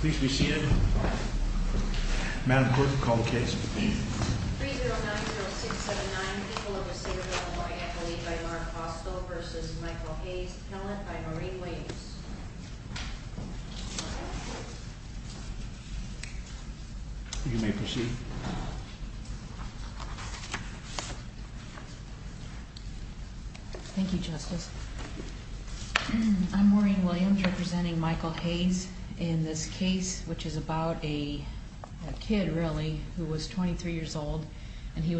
Please be seated. Madam Clerk, call the case. 3-090-679, people of the city of Hawaii, accolade by Mark Costco v. Michael Hayes, pellet by Maureen Williams. You may proceed. Thank you, Justice. I'm Maureen Williams, representing Michael Hayes in this case, which is about a kid, really, who was 23 years old, and he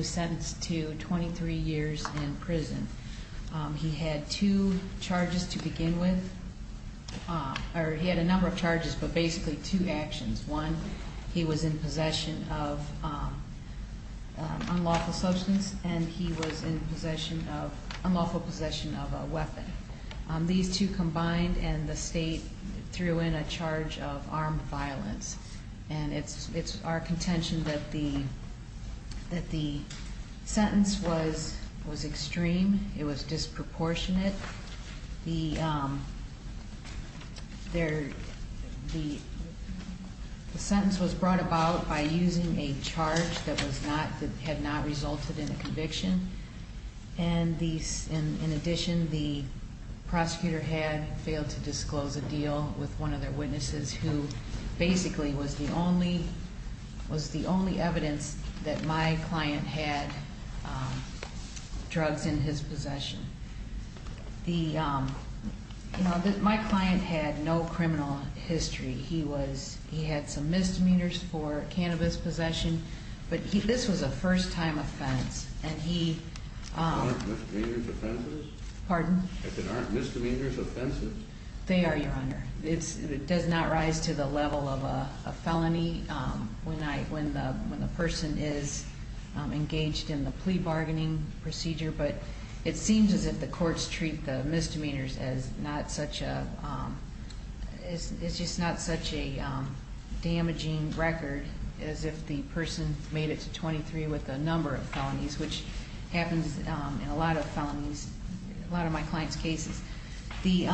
had two charges to begin with. He had a number of charges, but basically two actions. One, he was in possession of unlawful substance, and he was in unlawful possession of a weapon. These two combined, and the state threw in a charge of armed violence. And it's our contention that the sentence was extreme. It was disproportionate. The sentence was brought about by using a charge that had not resulted in a conviction. And in addition, the prosecutor had failed to disclose a deal with one of their witnesses who basically was the only evidence that my client had drugs in his possession. My client had no criminal history. He had some misdemeanors for cannabis possession, but this was a first-time offense. Aren't misdemeanors offenses? Pardon? Aren't misdemeanors offenses? They are, Your Honor. It does not rise to the level of a felony when the person is engaged in the plea bargaining procedure, but it seems as if the courts treat the misdemeanors as not such a damaging record, as if the person made it to 23 with a number of felonies, which happens in a lot of felonies, a lot of my clients' cases. The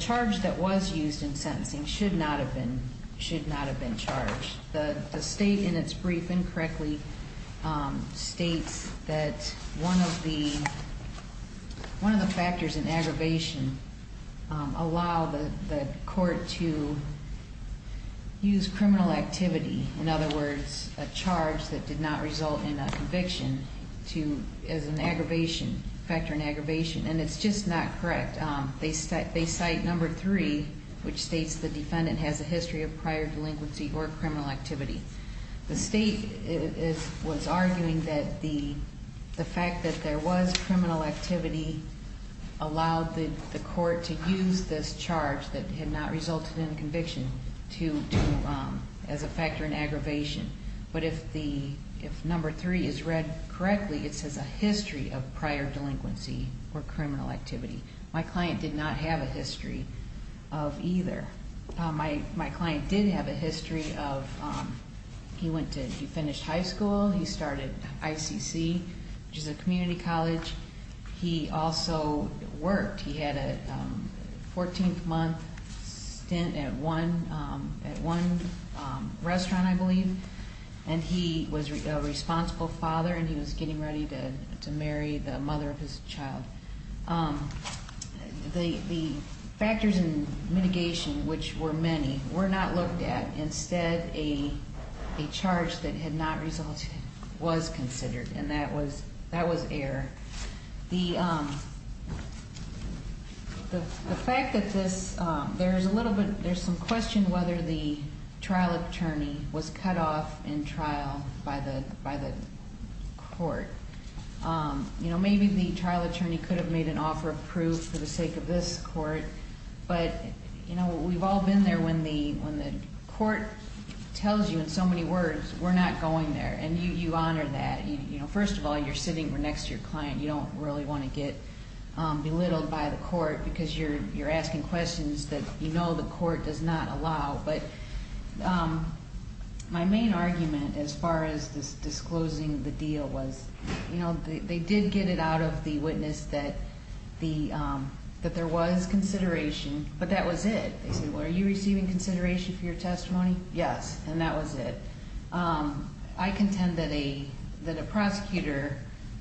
charge that was used in sentencing should not have been charged. The state, in its brief, incorrectly states that one of the factors in aggravation allowed the court to use criminal activity, in other words, a charge that did not result in a conviction, as a factor in aggravation, and it's just not correct. They cite number three, which states the defendant has a history of prior delinquency or criminal activity. The state was arguing that the fact that there was criminal activity allowed the court to use this charge that had not resulted in a conviction as a factor in aggravation, but if number three is read correctly, it says a history of prior delinquency or criminal activity. My client did not have a history of either. My client did have a history of he finished high school. He started ICC, which is a community college. He also worked. He had a 14-month stint at one restaurant, I believe, and he was a responsible father, and he was getting ready to marry the mother of his child. The factors in mitigation, which were many, were not looked at. Instead, a charge that had not resulted was considered, and that was error. The fact that this, there's a little bit, there's some question whether the trial attorney was cut off in trial by the court. Maybe the trial attorney could have made an offer of proof for the sake of this court, but we've all been there when the court tells you in so many words, we're not going there, and you honor that. First of all, you're sitting next to your client. You don't really want to get belittled by the court because you're asking questions that you know the court does not allow, but my main argument as far as disclosing the deal was they did get it out of the witness that there was consideration, but that was it. They said, well, are you receiving consideration for your testimony? Yes, and that was it. I contend that a prosecutor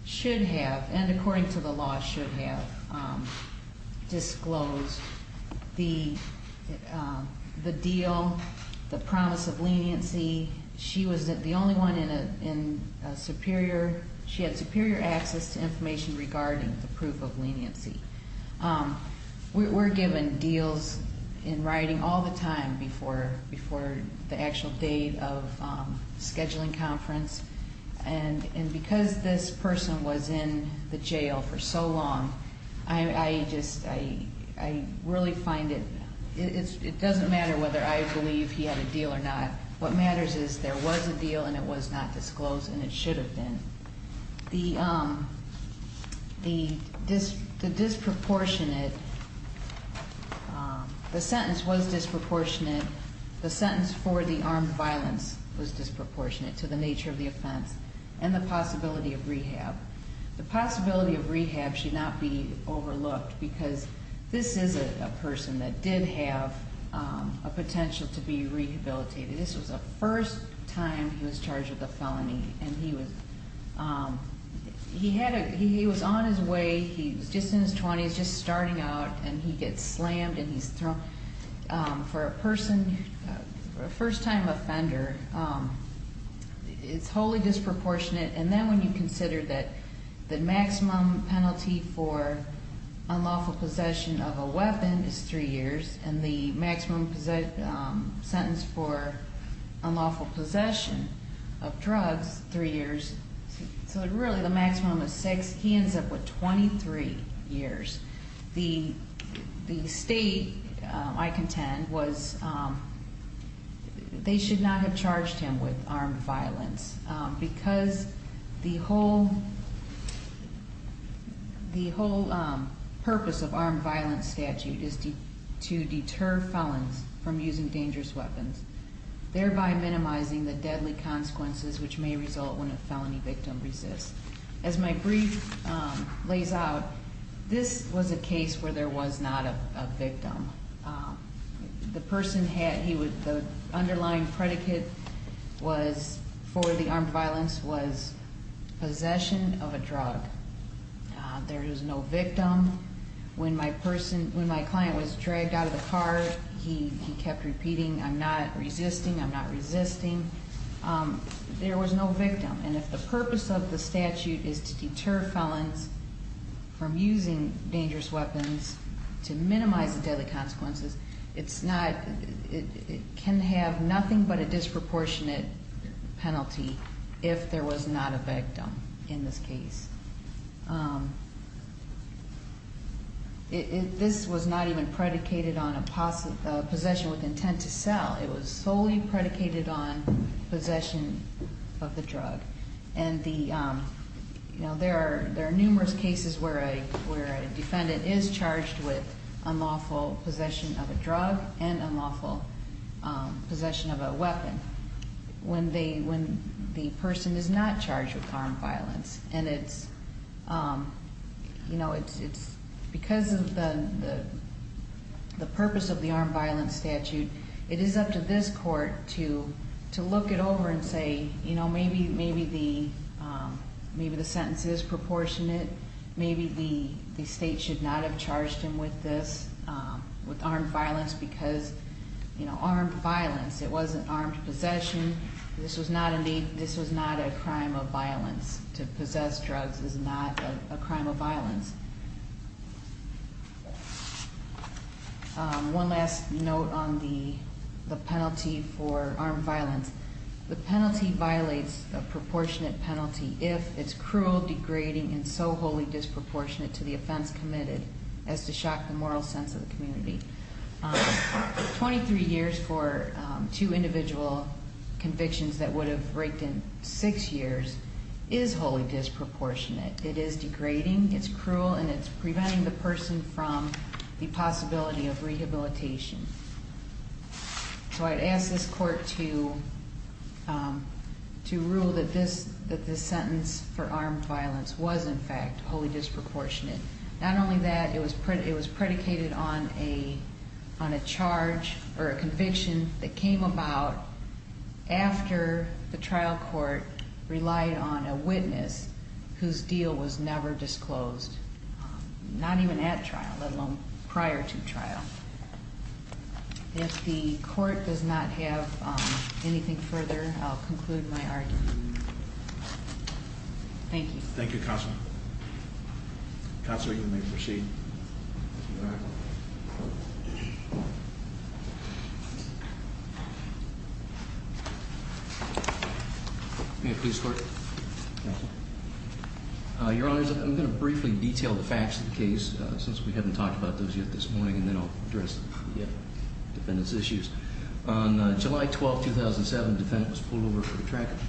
should have, and according to the law should have, disclosed the deal, the promise of leniency. She was the only one in a superior, she had superior access to information regarding the proof of leniency. We're given deals in writing all the time before the actual date of scheduling conference, and because this person was in the jail for so long, I really find it doesn't matter whether I believe he had a deal or not. What matters is there was a deal, and it was not disclosed, and it should have been. The disproportionate, the sentence was disproportionate. The sentence for the armed violence was disproportionate to the nature of the offense and the possibility of rehab. The possibility of rehab should not be overlooked because this is a person that did have a potential to be rehabilitated. This was the first time he was charged with a felony, and he was on his way. He was just in his 20s, just starting out, and he gets slammed, and he's thrown. For a person, a first-time offender, it's wholly disproportionate, and then when you consider that the maximum penalty for unlawful possession of a weapon is three years, and the maximum sentence for unlawful possession of drugs, three years, so really the maximum is six, he ends up with 23 years. The state, I contend, was, they should not have charged him with armed violence because the whole purpose of armed violence statute is to deter felons from using dangerous weapons, thereby minimizing the deadly consequences which may result when a felony victim resists. As my brief lays out, this was a case where there was not a victim. The person had, the underlying predicate was, for the armed violence, was possession of a drug. There was no victim. When my client was dragged out of the car, he kept repeating, I'm not resisting, I'm not resisting. There was no victim, and if the purpose of the statute is to deter felons from using dangerous weapons to minimize the deadly consequences, it's not, it can have nothing but a disproportionate penalty if there was not a victim in this case. This was not even predicated on a possession with intent to sell. It was solely predicated on possession of the drug, and there are numerous cases where a defendant is charged with unlawful possession of a drug and unlawful possession of a weapon when the person is not charged with armed violence. And it's, because of the purpose of the armed violence statute, it is up to this court to look it over and say, maybe the sentence is proportionate. Maybe the state should not have charged him with this, with armed violence, because armed violence, it wasn't armed possession. This was not a crime of violence. One last note on the penalty for armed violence. The penalty violates a proportionate penalty if it's cruel, degrading, and so wholly disproportionate to the offense committed as to shock the moral sense of the community. 23 years for two individual convictions that would have breaked in six years is wholly disproportionate. It is degrading, it's cruel, and it's preventing the person from the possibility of rehabilitation. So I'd ask this court to rule that this sentence for armed violence was, in fact, wholly disproportionate. Not only that, it was predicated on a charge or a conviction that came about after the trial court relied on a witness whose deal was never disclosed, not even at trial, let alone prior to trial. If the court does not have anything further, I'll conclude my argument. Thank you. Thank you, Counsel. Counsel, you may proceed. May I please, Court? Thank you. Your Honors, I'm going to briefly detail the facts of the case since we haven't talked about those yet this morning, and then I'll address the defendant's issues. On July 12, 2007, the defendant was pulled over for a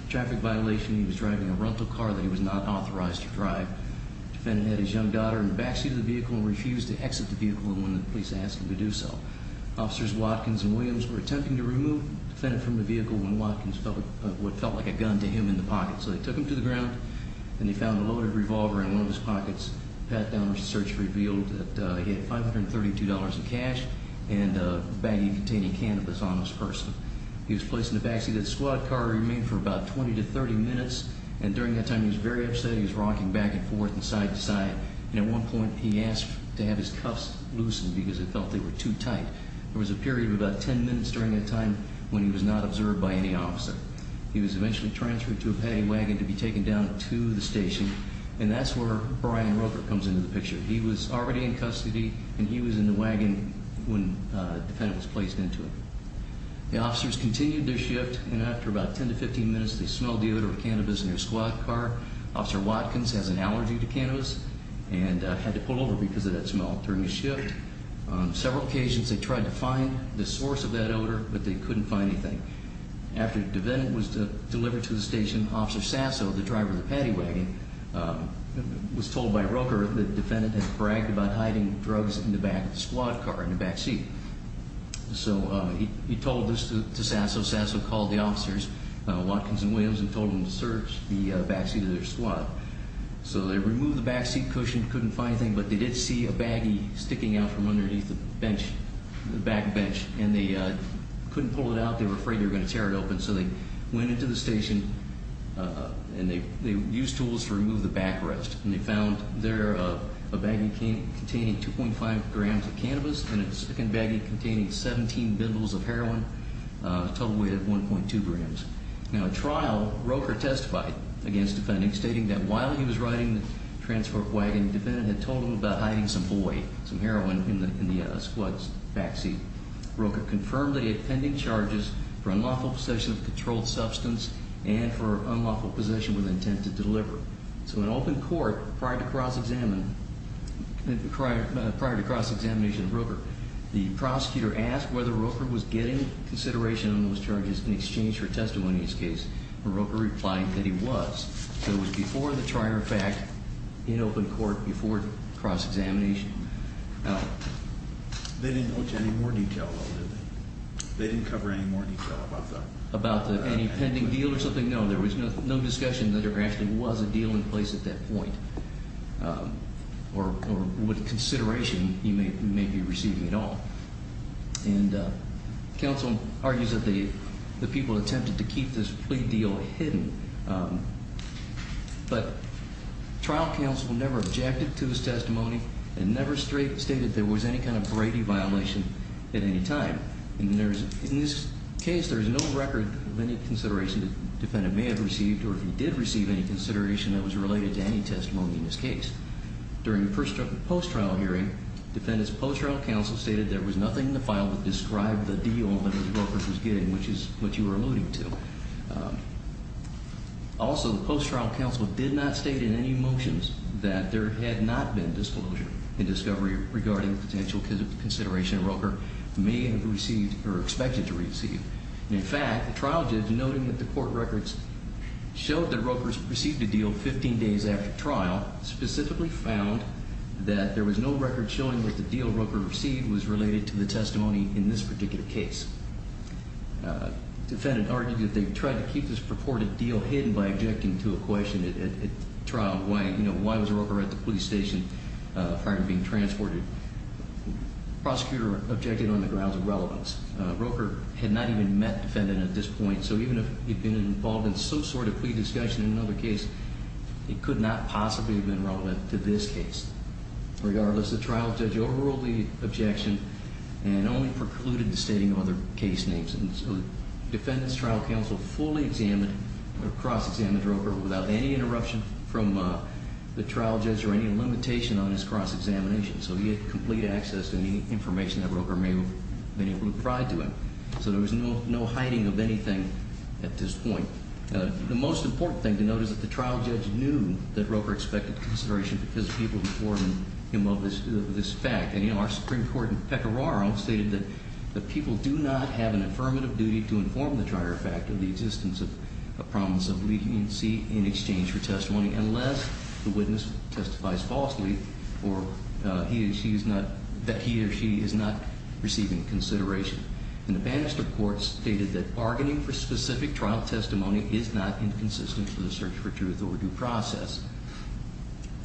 traffic violation. He was driving a rental car that he was not authorized to drive. The defendant had his young daughter in the backseat of the vehicle and refused to exit the vehicle when the police asked him to do so. Officers Watkins and Williams were attempting to remove the defendant from the vehicle when Watkins felt what felt like a gun to him in the pocket. So they took him to the ground, and they found a loaded revolver in one of his pockets. Pat Downer's search revealed that he had $532 in cash and a baggie containing cannabis on his purse. He was placed in the backseat of the squad car, remained for about 20 to 30 minutes, and during that time he was very upset. He was rocking back and forth and side to side, and at one point he asked to have his cuffs loosened because he felt they were too tight. There was a period of about 10 minutes during that time when he was not observed by any officer. He was eventually transferred to a paddy wagon to be taken down to the station, and that's where Brian Roker comes into the picture. He was already in custody, and he was in the wagon when the defendant was placed into it. The officers continued their shift, and after about 10 to 15 minutes they smelled the odor of cannabis in their squad car. Officer Watkins has an allergy to cannabis and had to pull over because of that smell during the shift. On several occasions they tried to find the source of that odor, but they couldn't find anything. After the defendant was delivered to the station, Officer Sasso, the driver of the paddy wagon, was told by Roker that the defendant had bragged about hiding drugs in the back of the squad car, in the backseat. So he told this to Sasso. Sasso called the officers, Watkins and Williams, and told them to search the backseat of their squad. So they removed the backseat cushion, couldn't find anything, but they did see a baggie sticking out from underneath the bench, the back bench, and they couldn't pull it out. They were afraid they were going to tear it open. So they went into the station, and they used tools to remove the backrest, and they found there a baggie containing 2.5 grams of cannabis and a second baggie containing 17 bundles of heroin, a total weight of 1.2 grams. Now, in trial, Roker testified against the defendant, stating that while he was riding the transport wagon, the defendant had told him about hiding some boy, some heroin, in the squad's backseat. Roker confirmed that he had pending charges for unlawful possession of a controlled substance and for unlawful possession with intent to deliver. So in open court, prior to cross-examination of Roker, the prosecutor asked whether Roker was getting consideration on those charges in exchange for testimony in his case, and Roker replied that he was. So it was before the trial, in fact, in open court before cross-examination. They didn't go into any more detail, though, did they? They didn't cover any more detail about that? About any pending deal or something? No, there was no discussion that there actually was a deal in place at that point or what consideration he may be receiving at all. And counsel argues that the people attempted to keep this plea deal hidden, but trial counsel never objected to his testimony and never stated there was any kind of Brady violation at any time. In this case, there is no record of any consideration the defendant may have received or did receive any consideration that was related to any testimony in this case. During the post-trial hearing, defendant's post-trial counsel stated there was nothing in the file that described the deal that Roker was getting, which is what you were alluding to. Also, the post-trial counsel did not state in any motions that there had not been disclosure in discovery regarding potential consideration Roker may have received or expected to receive. In fact, the trial judge, noting that the court records showed that Roker received a deal 15 days after trial, specifically found that there was no record showing that the deal Roker received was related to the testimony in this particular case. Defendant argued that they tried to keep this purported deal hidden by objecting to a question at trial, why was Roker at the police station, firing and being transported. Prosecutor objected on the grounds of relevance. Roker had not even met defendant at this point, so even if he'd been involved in some sort of plea discussion in another case, it could not possibly have been relevant to this case. Regardless, the trial judge overruled the objection and only precluded the stating of other case names. Defendant's trial counsel fully examined or cross-examined Roker without any interruption from the trial judge or any limitation on his cross-examination. So he had complete access to any information that Roker may have been able to provide to him. So there was no hiding of anything at this point. The most important thing to note is that the trial judge knew that Roker expected consideration because people reported him of this fact. And, you know, our Supreme Court in Pecoraro stated that people do not have an affirmative duty to inform the trial judge of the existence of a promise of leniency in exchange for testimony unless the witness testifies falsely or that he or she is not receiving consideration. And the Bannister Court stated that bargaining for specific trial testimony is not inconsistent for the search for truth or due process.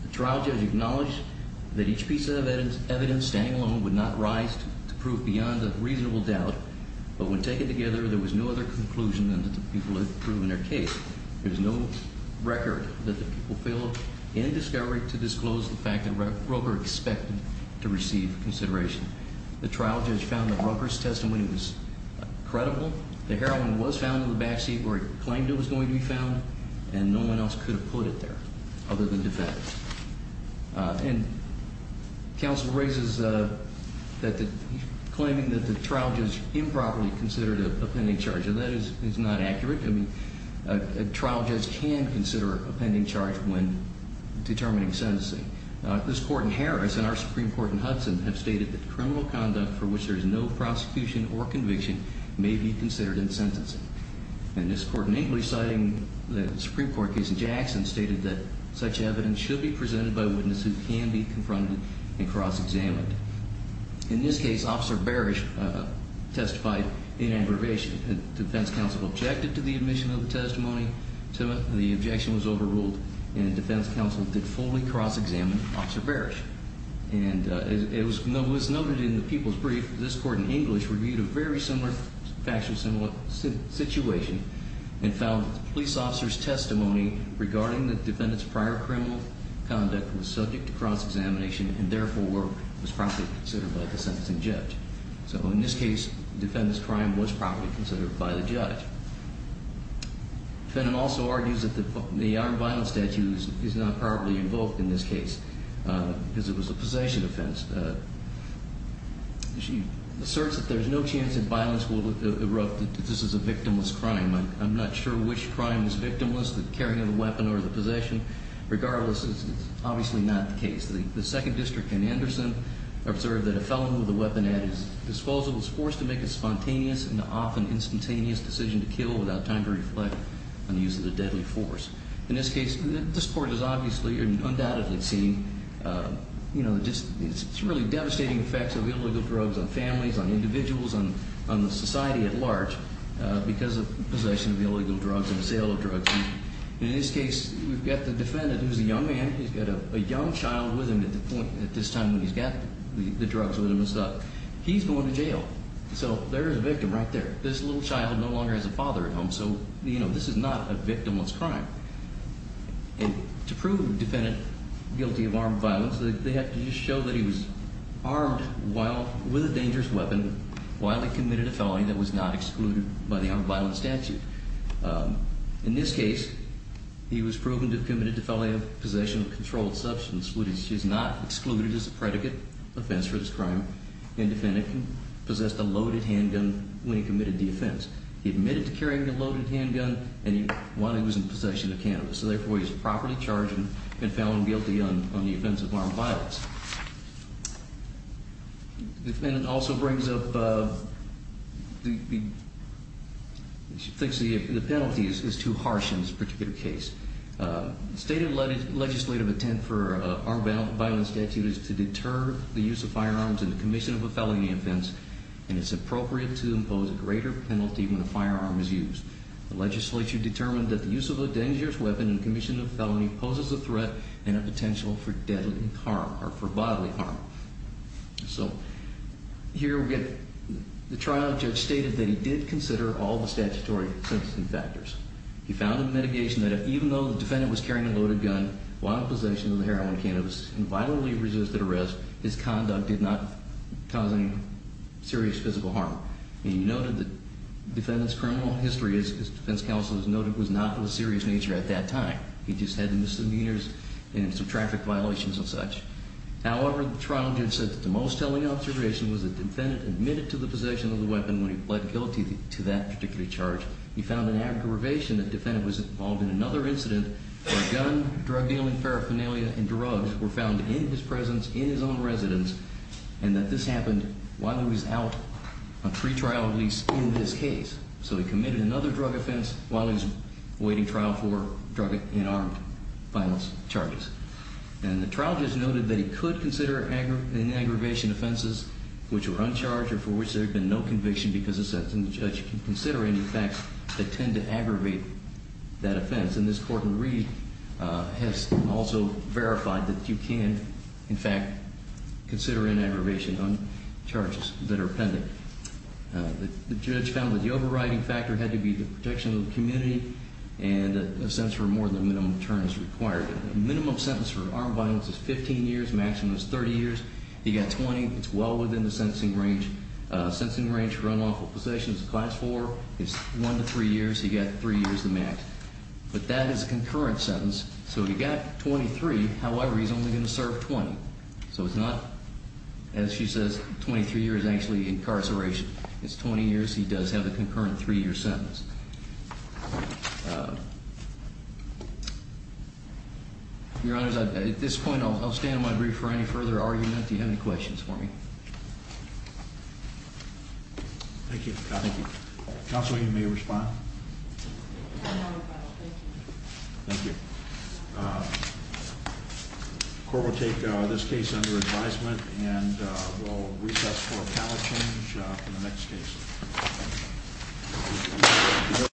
The trial judge acknowledged that each piece of evidence, standing alone, would not rise to prove beyond a reasonable doubt, but when taken together there was no other conclusion than that the people had proven their case. There's no record that the people filled in discovery to disclose the fact that Roker expected to receive consideration. The trial judge found that Roker's testimony was credible. The heroin was found in the backseat where he claimed it was going to be found, and no one else could have put it there other than defendants. And counsel raises that he's claiming that the trial judge improperly considered a pending charge, and that is not accurate. A trial judge can consider a pending charge when determining sentencing. This Court in Harris and our Supreme Court in Hudson have stated that criminal conduct for which there is no prosecution or conviction may be considered in sentencing. And this Court in English, citing the Supreme Court case in Jackson, stated that such evidence should be presented by witnesses who can be confronted and cross-examined. In this case, Officer Barish testified in aggravation. Defense counsel objected to the admission of the testimony. The objection was overruled, and defense counsel did fully cross-examine Officer Barish. And it was noted in the people's brief that this Court in English reviewed a very similar, factually similar situation and found that the police officer's testimony regarding the defendant's prior criminal conduct was subject to cross-examination and therefore was properly considered by the sentencing judge. So in this case, the defendant's crime was properly considered by the judge. The defendant also argues that the armed violence statute is not properly invoked in this case because it was a possession offense. She asserts that there's no chance that violence will erupt, that this is a victimless crime. I'm not sure which crime is victimless, the carrying of the weapon or the possession. Regardless, it's obviously not the case. The second district in Anderson observed that a felon with a weapon at his disposal was forced to make a spontaneous and often instantaneous decision to kill without time to reflect on the use of the deadly force. In this case, this Court has obviously and undoubtedly seen, you know, just some really devastating effects of illegal drugs on families, on individuals, on the society at large because of possession of illegal drugs and sale of drugs. In this case, we've got the defendant who's a young man. He's got a young child with him at this time when he's got the drugs with him and stuff. He's going to jail, so there's a victim right there. This little child no longer has a father at home, so, you know, this is not a victimless crime. And to prove the defendant guilty of armed violence, they have to just show that he was armed with a dangerous weapon while he committed a felony that was not excluded by the armed violence statute. In this case, he was proven to have committed a felony of possession of controlled substance, which is not excluded as a predicate offense for this crime, and the defendant possessed a loaded handgun when he committed the offense. He admitted to carrying a loaded handgun while he was in possession of cannabis, so therefore he was properly charged and found guilty on the offense of armed violence. The defendant also brings up the penalty is too harsh in this particular case. The stated legislative intent for an armed violence statute is to deter the use of firearms in the commission of a felony offense, and it's appropriate to impose a greater penalty when a firearm is used. The legislature determined that the use of a dangerous weapon in the commission of a felony poses a threat and a potential for deadly harm or for bodily harm. So here we get the trial. The judge stated that he did consider all the statutory sentencing factors. He found a mitigation that even though the defendant was carrying a loaded gun while in possession of the heroin cannabis and violently resisted arrest, his conduct did not cause any serious physical harm. He noted that the defendant's criminal history, as defense counsel has noted, was not of a serious nature at that time. He just had misdemeanors and some traffic violations and such. However, the trial judge said that the most telling observation was that the defendant admitted to the possession of the weapon when he pled guilty to that particular charge. He found an aggravation that the defendant was involved in another incident where a gun, drug dealing, paraphernalia, and drugs were found in his presence, in his own residence, and that this happened while he was out on pretrial release in this case. So he committed another drug offense while he was awaiting trial for drug and armed violence charges. And the trial judge noted that he could consider any aggravation offenses which were uncharged or for which there had been no conviction because the judge can consider any facts that tend to aggravate that offense. And this court in Reed has also verified that you can, in fact, consider an aggravation on charges that are appended. The judge found that the overriding factor had to be the protection of the community and a sentence for more than minimum terms required. A minimum sentence for armed violence is 15 years, maximum is 30 years. He got 20. It's well within the sentencing range. A sentencing range for unlawful possessions of class 4 is 1 to 3 years. He got 3 years to max. But that is a concurrent sentence. So he got 23. However, he's only going to serve 20. So it's not, as she says, 23 years actually incarceration. It's 20 years. He does have a concurrent 3-year sentence. Your Honors, at this point I'll stand on my brief for any further argument. Do you have any questions for me? Thank you. Counsel, you may respond. Thank you. The court will take this case under advisement, and we'll recess for a panel change for the next case.